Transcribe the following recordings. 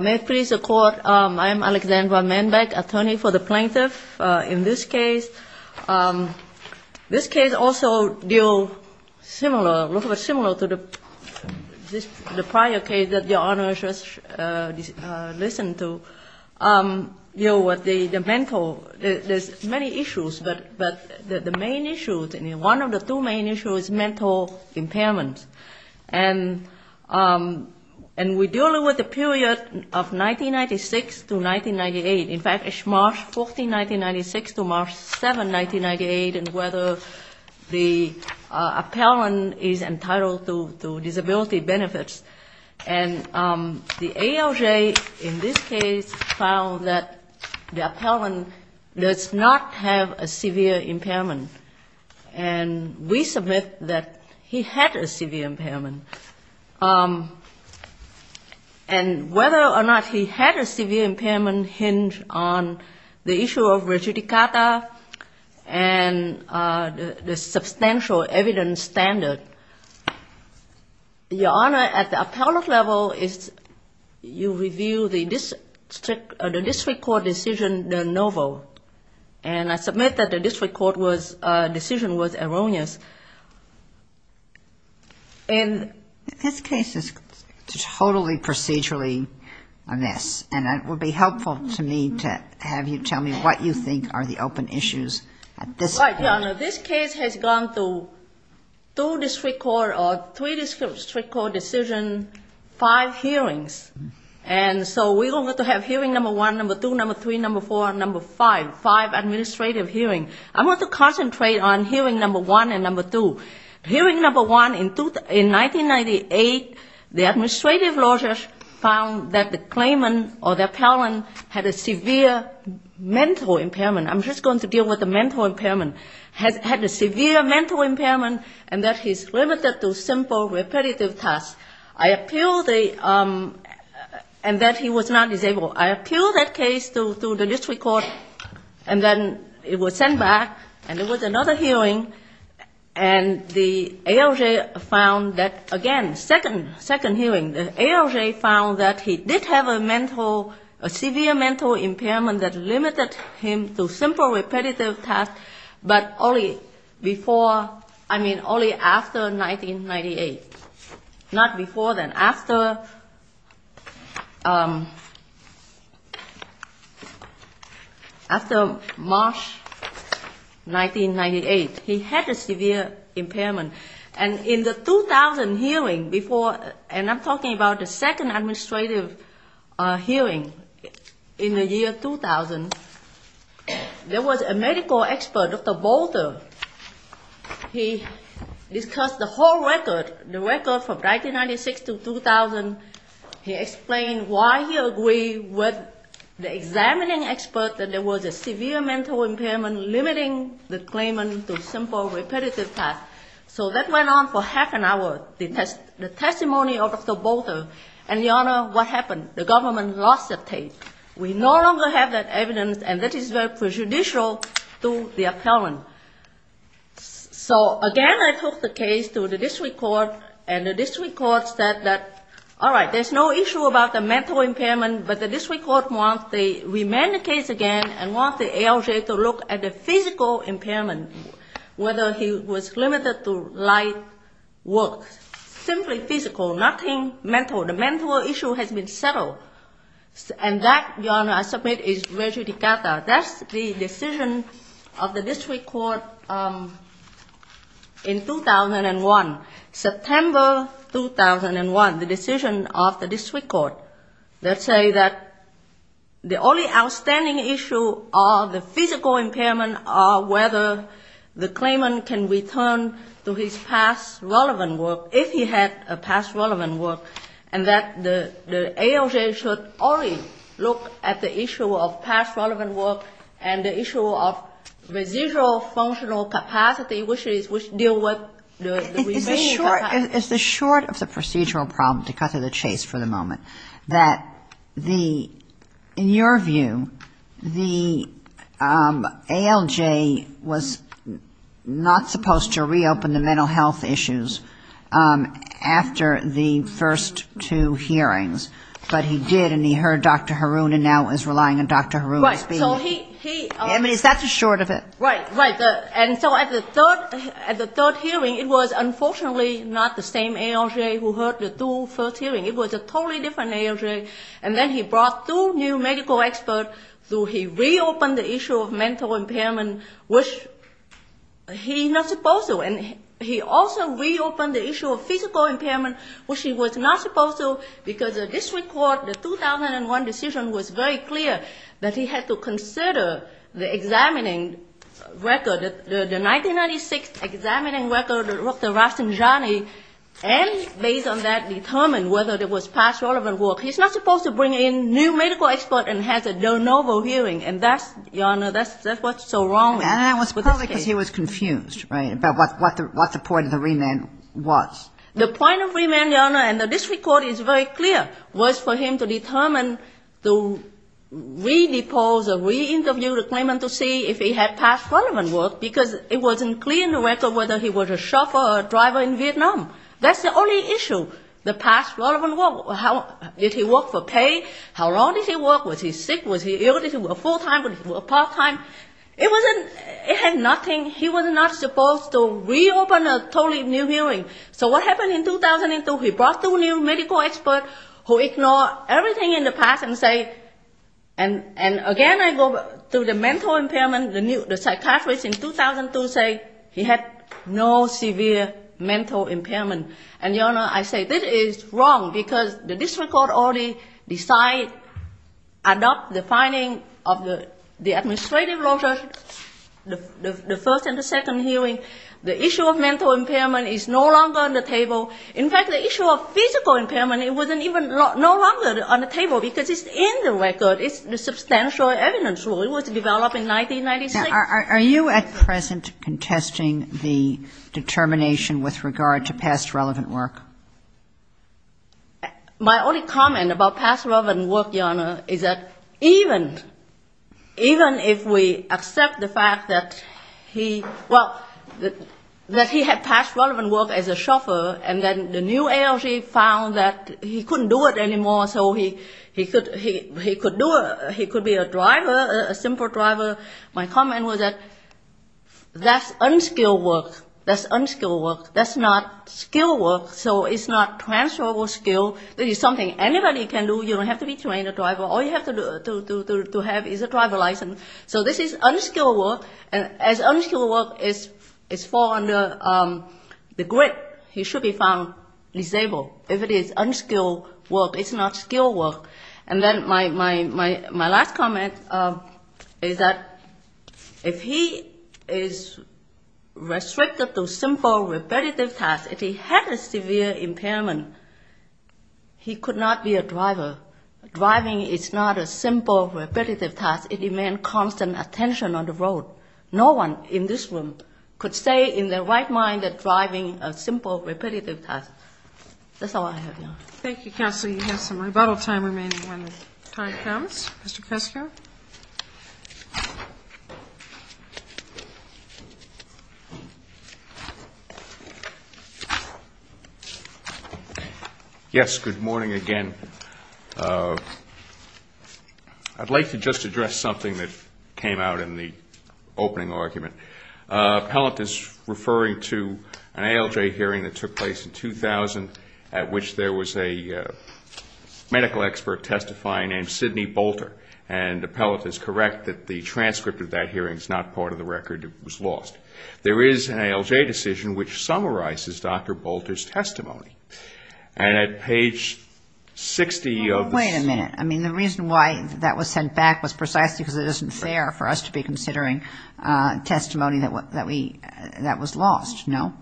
May it please the Court, I am Alexandra Manbeck, attorney for the plaintiff in this case. This case also deal similar, a little bit similar to the prior case that Your Honor just listened to, deal with the mental, there's many issues, but the main issue, one of the two main issues is mental impairment. And we deal with the period of 1996 to 1998. In fact, it's March 14, 1996 to March 7, 1998, and whether the appellant is entitled to disability benefits. And the ALJ in this case found that the appellant does not have a severe impairment. And we submit that he had a severe impairment. And whether or not he had a severe impairment hinged on the issue of regidicata and the substantial evidence standard. Your Honor, at the appellant level, you review the district court decision de novo, and I submit that the district court decision was erroneous. And this case is totally procedurally a mess, and it would be helpful to me to have you tell me what you think are the open issues. All right, Your Honor, this case has gone through two district court or three district court decisions, five hearings. And so we're going to have hearing number one, number two, number three, number four, number five, five administrative hearings. I want to concentrate on hearing number one and number two. Hearing number one, in 1998, the administrative lawyers found that the claimant or the appellant had a severe mental impairment. I'm just going to deal with the mental impairment. Had a severe mental impairment, and that he's limited to simple repetitive tasks. I appeal the ‑‑ and that he was not disabled. I appeal that case to the district court, and then it was sent back, and there was another hearing. And the ALJ found that, again, second hearing, the ALJ found that he did have a mental, a severe mental impairment that limited him to simple repetitive tasks, but only before, I mean, only after 1998. Not before then. After March 1998, he had a severe impairment. And in the 2000 hearing before, and I'm talking about the second administrative hearing in the year 2000, there was a medical expert, Dr. Boulter. He discussed the whole record, the record from 1996 to 2000. He explained why he agreed with the examining expert that there was a severe mental impairment limiting the claimant to simple repetitive tasks. So that went on for half an hour, the testimony of Dr. Boulter. And, Your Honor, what happened? The government lost the case. We no longer have that evidence, and that is very prejudicial to the appellant. So, again, I took the case to the district court, and the district court said that, all right, there's no issue about the mental impairment, but the district court wants to remand the case again and wants the ALJ to look at the physical impairment, whether he was limited to light work. That's simply physical, nothing mental. The mental issue has been settled. And that, Your Honor, I submit is rejudicata. That's the decision of the district court in 2001, September 2001, the decision of the district court that say that the only outstanding issue of the physical impairment are whether the claimant can return to his past relevant work. If he had a past relevant work, and that the ALJ should only look at the issue of past relevant work and the issue of residual functional capacity, which deal with the remaining time. But is the short of the procedural problem, to cut to the chase for the moment, that the, in your view, the ALJ was not supposed to reopen the mental health issues after the first two hearings, but he did, and he heard Dr. Haroon and now is relying on Dr. Haroon. Right. I mean, is that the short of it? Right, right. And so at the third hearing, it was unfortunately not the same ALJ who heard the two first hearings. It was a totally different ALJ. And then he brought two new medical experts, so he reopened the issue of mental impairment, which he's not supposed to. And he also reopened the issue of physical impairment, which he was not supposed to, because the district court, the 2001 decision was very clear that he had to consider the examining record, the 1996 examining record of Dr. Rasenjani, and based on that, determine whether there was past relevant work. He's not supposed to bring in new medical expert and has a de novo hearing. And that's, Your Honor, that's what's so wrong with this case. It's only because he was confused, right, about what the point of the remand was. The point of remand, Your Honor, and the district court is very clear, was for him to determine to re-depose or re-interview the claimant to see if he had past relevant work, because it wasn't clear in the record whether he was a chauffeur or a driver in Vietnam. That's the only issue, the past relevant work. Did he work for pay? How long did he work? Was he sick? Was he ill? Did he work full-time? Was he work part-time? It had nothing. He was not supposed to reopen a totally new hearing. So what happened in 2002, he brought two new medical experts who ignored everything in the past and say, and again I go to the mental impairment, the psychiatrist in 2002 say he had no severe mental impairment. And, Your Honor, I say this is wrong because the district court already decide, adopt the finding of the administrative law judge, the first and the second hearing. The issue of mental impairment is no longer on the table. In fact, the issue of physical impairment, it wasn't even no longer on the table because it's in the record. It's the substantial evidence rule. It was developed in 1996. Are you at present contesting the determination with regard to past relevant work? My only comment about past relevant work, Your Honor, is that even if we accept the fact that he, well, that he had past relevant work as a chauffeur, and then the new ALG found that he couldn't do it anymore, so he could be a driver, a simple driver. My comment was that that's unskilled work. That's unskilled work. That's not skilled work. So it's not transferable skill. This is something anybody can do. You don't have to be trained a driver. All you have to have is a driver license. So this is unskilled work. And as unskilled work is fall under the grid, he should be found disabled. If it is unskilled work, it's not skilled work. And then my last comment is that if he is restricted to simple repetitive tasks, if he had a severe impairment, he could not be a driver. Driving is not a simple repetitive task. It demands constant attention on the road. No one in this room could say in their right mind that driving is a simple repetitive task. That's all I have, Your Honor. Thank you, Counselor. You have some rebuttal time remaining when the time comes. Mr. Kresge. Yes, good morning again. I'd like to just address something that came out in the opening argument. Appellant is referring to an ALJ hearing that took place in 2000 at which there was a medical expert testifying named Sidney Bolter. And Appellant is correct that the transcript of that hearing is not part of the record. It was lost. There is an ALJ decision which summarizes Dr. Bolter's testimony. And at page 60 of the I mean, the reason why that was sent back was precisely because it isn't fair for us to be considering testimony that was lost, no?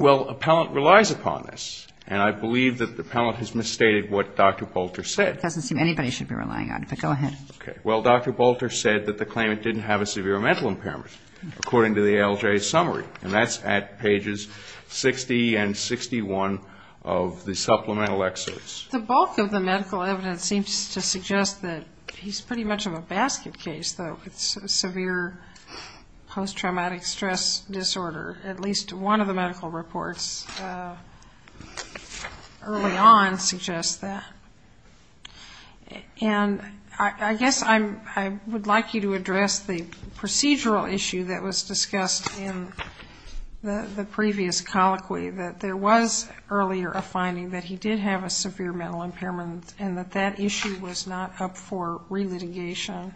Well, Appellant relies upon this. And I believe that Appellant has misstated what Dr. Bolter said. It doesn't seem anybody should be relying on it, but go ahead. Okay. Well, Dr. Bolter said that the claimant didn't have a severe mental impairment, according to the ALJ summary. And that's at pages 60 and 61 of the supplemental excerpts. The bulk of the medical evidence seems to suggest that he's pretty much of a basket case, though, with severe post-traumatic stress disorder. At least one of the medical reports early on suggests that. And I guess I would like you to address the procedural issue that was discussed in the previous colloquy, that there was earlier a finding that he did have a severe mental impairment and that that issue was not up for relitigation.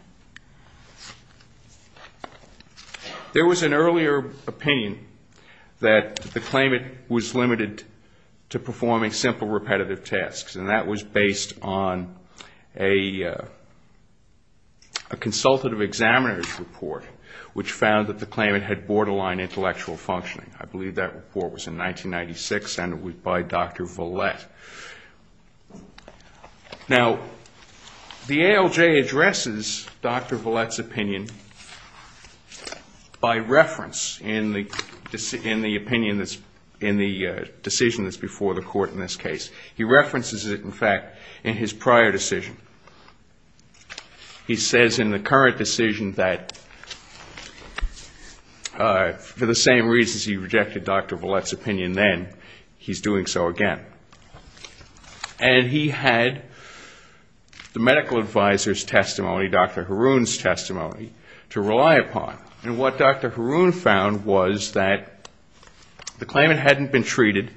There was an earlier opinion that the claimant was limited to performing simple repetitive tasks. And that was based on a consultative examiner's report, which found that the claimant had borderline intellectual functioning. I believe that report was in 1996 and it was by Dr. Vallette. Now, the ALJ addresses Dr. Vallette's opinion by reference in the decision that's before the court in this case. He references it, in fact, in his prior decision. He says in the current decision that for the same reasons he rejected Dr. Vallette's opinion then, he's doing so again. And he had the medical advisor's testimony, Dr. Haroun's testimony, to rely upon. And what Dr. Haroun found was that the claimant hadn't been treated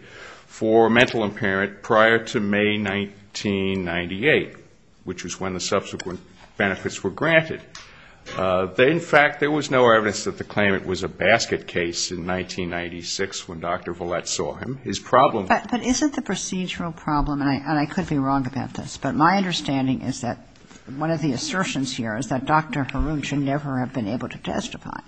for mental impairment prior to May 1998, which was when the subsequent benefits were granted. In fact, there was no evidence that the claimant was a basket case in 1996 when Dr. Vallette saw him. His problem was... But isn't the procedural problem, and I could be wrong about this, but my understanding is that one of the assertions here is that Dr. Haroun should never have been able to testify,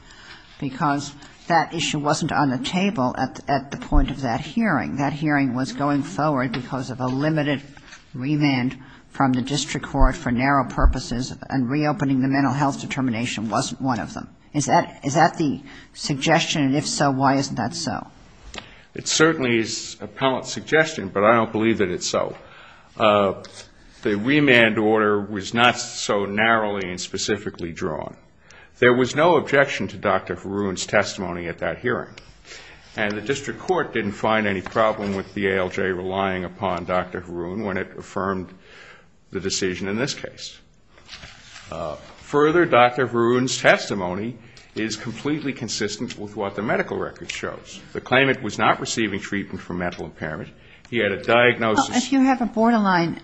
because that issue wasn't on the table at the point of that hearing. That hearing was going forward because of a limited remand from the district court for narrow purposes, and reopening the mental health determination wasn't one of them. Is that the suggestion? And if so, why isn't that so? It certainly is a palatine suggestion, but I don't believe that it's so. The remand order was not so narrowly and specifically drawn. There was no objection to Dr. Haroun's testimony at that hearing, and the district court didn't find any problem with the ALJ relying upon Dr. Haroun when it affirmed the decision in this case. Further, Dr. Haroun's testimony is completely consistent with what the medical record shows. The claimant was not receiving treatment for mental impairment. He had a diagnosis... Well, if you have a borderline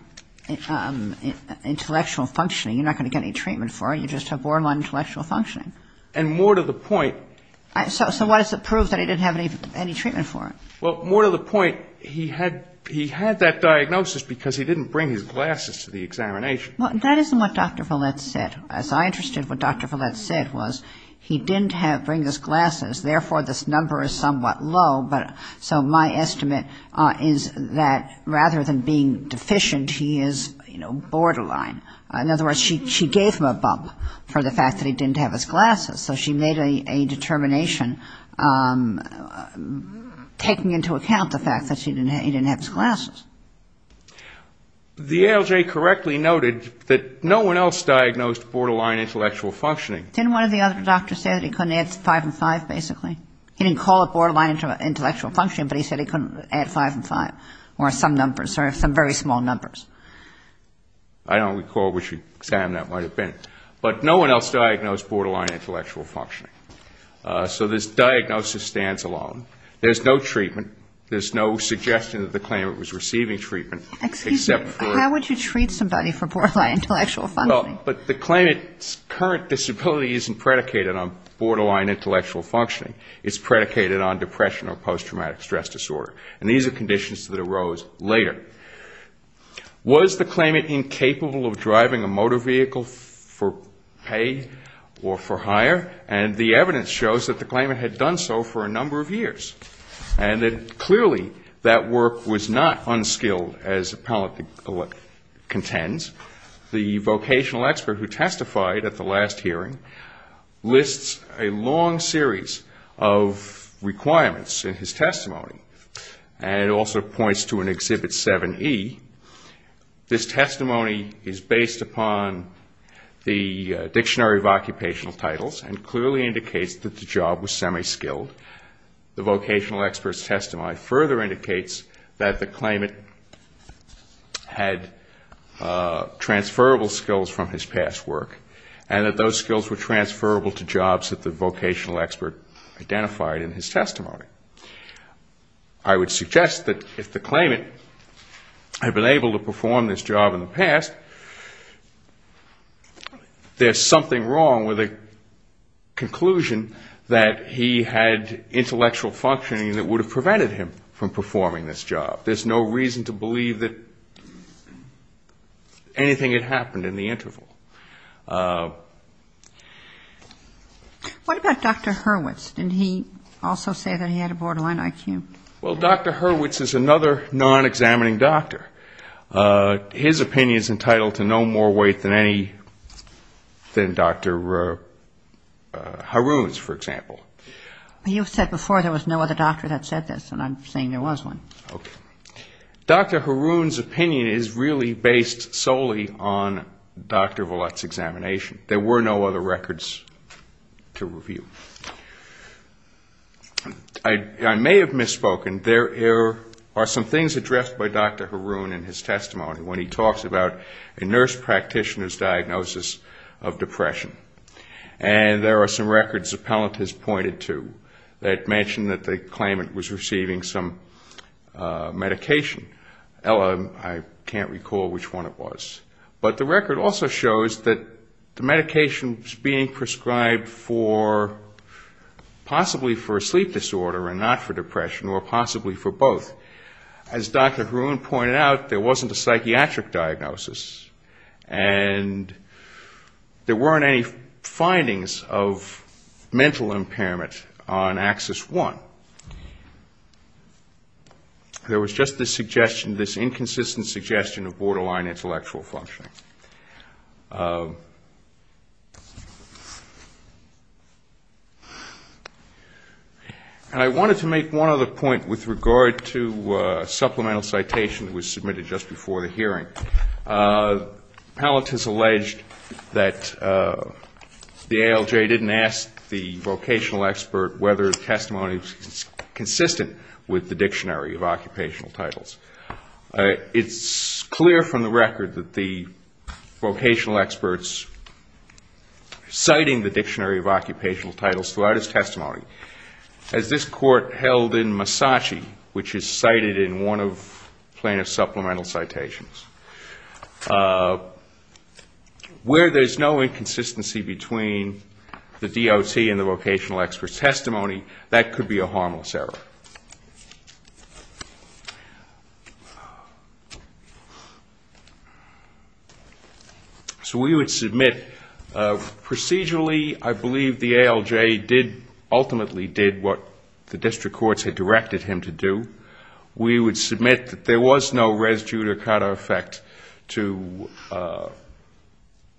intellectual functioning, you're not going to get any treatment for it. You just have borderline intellectual functioning. And more to the point... So why does it prove that he didn't have any treatment for it? Well, more to the point, he had that diagnosis because he didn't bring his glasses to the examination. Well, that isn't what Dr. Follett said. As I understood what Dr. Follett said was he didn't bring his glasses, therefore this number is somewhat low, so my estimate is that rather than being deficient, he is, you know, borderline. In other words, she gave him a bump for the fact that he didn't have his glasses, so she made a determination taking into account the fact that he didn't have his glasses. The ALJ correctly noted that no one else diagnosed borderline intellectual functioning. Didn't one of the other doctors say that he couldn't add 5 and 5, basically? He didn't call it borderline intellectual functioning, but he said he couldn't add 5 and 5, or some numbers, or some very small numbers. I don't recall which exam that might have been. But no one else diagnosed borderline intellectual functioning. So this diagnosis stands alone. There's no treatment. There's no suggestion that the claimant was receiving treatment, except for... Excuse me. How would you treat somebody for borderline intellectual functioning? Well, but the claimant's current disability isn't predicated on borderline intellectual functioning. It's predicated on depression or post-traumatic stress disorder. And these are conditions that arose later. Was the claimant incapable of driving a motor vehicle for pay or for hire? And the evidence shows that the claimant had done so for a number of years. And that clearly that work was not unskilled, as the appellant contends. The vocational expert who testified at the last hearing lists a long series of requirements in his testimony. And it also points to an Exhibit 7E. This testimony is based upon the Dictionary of Occupational Titles and clearly indicates that the job was semi-skilled. The vocational expert's testimony further indicates that the claimant had transferable skills from his past work. And that those skills were transferable to jobs that the vocational expert identified in his testimony. I would suggest that if the claimant had been able to perform this job in the past, there's something wrong with a conclusion that he had intellectual functioning that would have prevented him from performing this job. There's no reason to believe that anything had happened in the interval. What about Dr. Hurwitz? Didn't he also say that he had a borderline IQ? Well, Dr. Hurwitz is another non-examining doctor. His opinion is entitled to no more weight than Dr. Haroun's, for example. You've said before there was no other doctor that said this, and I'm saying there was one. Okay. Dr. Haroun's opinion is really based solely on Dr. Vallette's examination. There were no other records to review. I may have misspoken. There are some things addressed by Dr. Haroun in his testimony when he talks about a nurse practitioner's diagnosis of depression. And there are some records the appellant has pointed to that mention that the claimant was receiving some medication. I can't recall which one it was. But the record also shows that the medication was being prescribed for possibly for a sleep disorder and not for depression, or possibly for both. As Dr. Haroun pointed out, there wasn't a psychiatric diagnosis, and there weren't any findings of mental impairment on Axis I. There was just this suggestion, this inconsistent suggestion of borderline intellectual functioning. And I wanted to make one other point with regard to a supplemental citation that was submitted just before the hearing. The appellant has alleged that the ALJ didn't ask the vocational expert whether the testimony was consistent with what he was saying. It's clear from the record that the vocational experts citing the Dictionary of Occupational Titles throughout his testimony, as this Court held in Massachi, which is cited in one of plaintiff's supplemental citations, where there's no inconsistency between the DOT and the vocational expert's testimony, that could be a whole other matter. So we would submit, procedurally, I believe the ALJ ultimately did what the district courts had directed him to do. We would submit that there was no res judicata effect to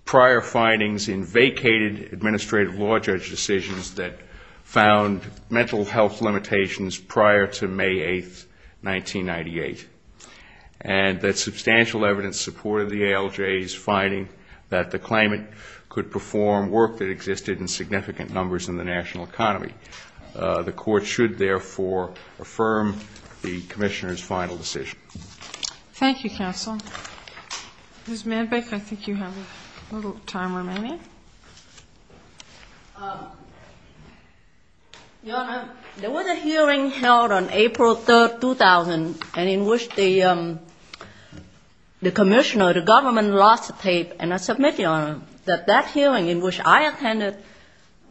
prior findings in vacated administrative law judge decisions that found mental health limits in the ALJ. And we would submit that the ALJ did not ask the vocational expert for any of the citations prior to May 8, 1998, and that substantial evidence supported the ALJ's finding that the claimant could perform work that existed in significant numbers in the national economy. The Court should, therefore, affirm the Commissioner's final decision. Thank you, counsel. Ms. Manbeck, I think you have a little time remaining. Ms. Manbeck. Your Honor, there was a hearing held on April 3, 2000, and in which the Commissioner, the government, lost the tape. And I submit, Your Honor, that that hearing in which I attended,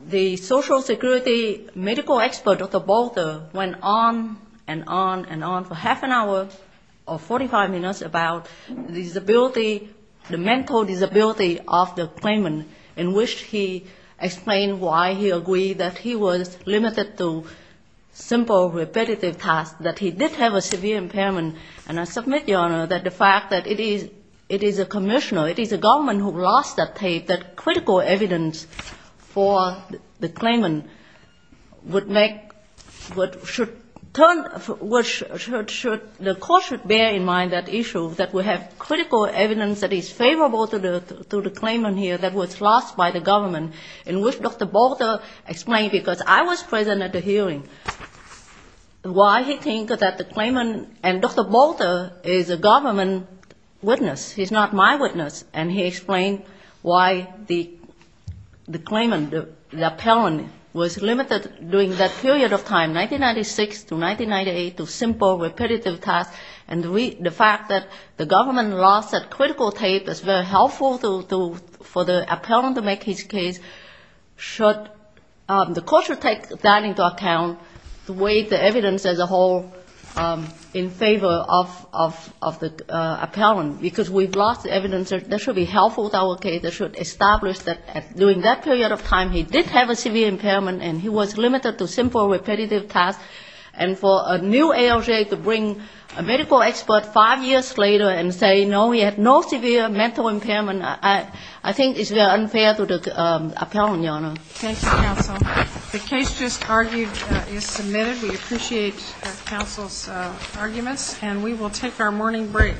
the social security medical expert, Dr. Bolter, went on and on and on for half an hour or 45 minutes about disability, the mental disability of the claimant. In which he explained why he agreed that he was limited to simple repetitive tasks, that he did have a severe impairment. And I submit, Your Honor, that the fact that it is a Commissioner, it is a government who lost that tape, that critical evidence for the claimant would make what should turn the Court should bear in mind that issue, that we have critical evidence that is favorable to the claimant here that was lost. By the government, in which Dr. Bolter explained, because I was present at the hearing, why he think that the claimant and Dr. Bolter is a government witness. He's not my witness. And he explained why the claimant, the appellant, was limited during that period of time, 1996 to 1998, to simple repetitive tasks. And the fact that the government lost that critical tape is very helpful for the appellant to make his case, should, the Court should take that into account to weigh the evidence as a whole in favor of the appellant. Because we've lost the evidence that should be helpful to our case, that should establish that during that period of time, he did have a severe impairment and he was limited to simple repetitive tasks. And for a new ALJ to bring a medical expert five years later and say, no, he had no severe mental impairment, I think it's very unfair to the appellant, Your Honor. Thank you, counsel. The case just argued is submitted. We appreciate counsel's arguments. And we will take our morning break.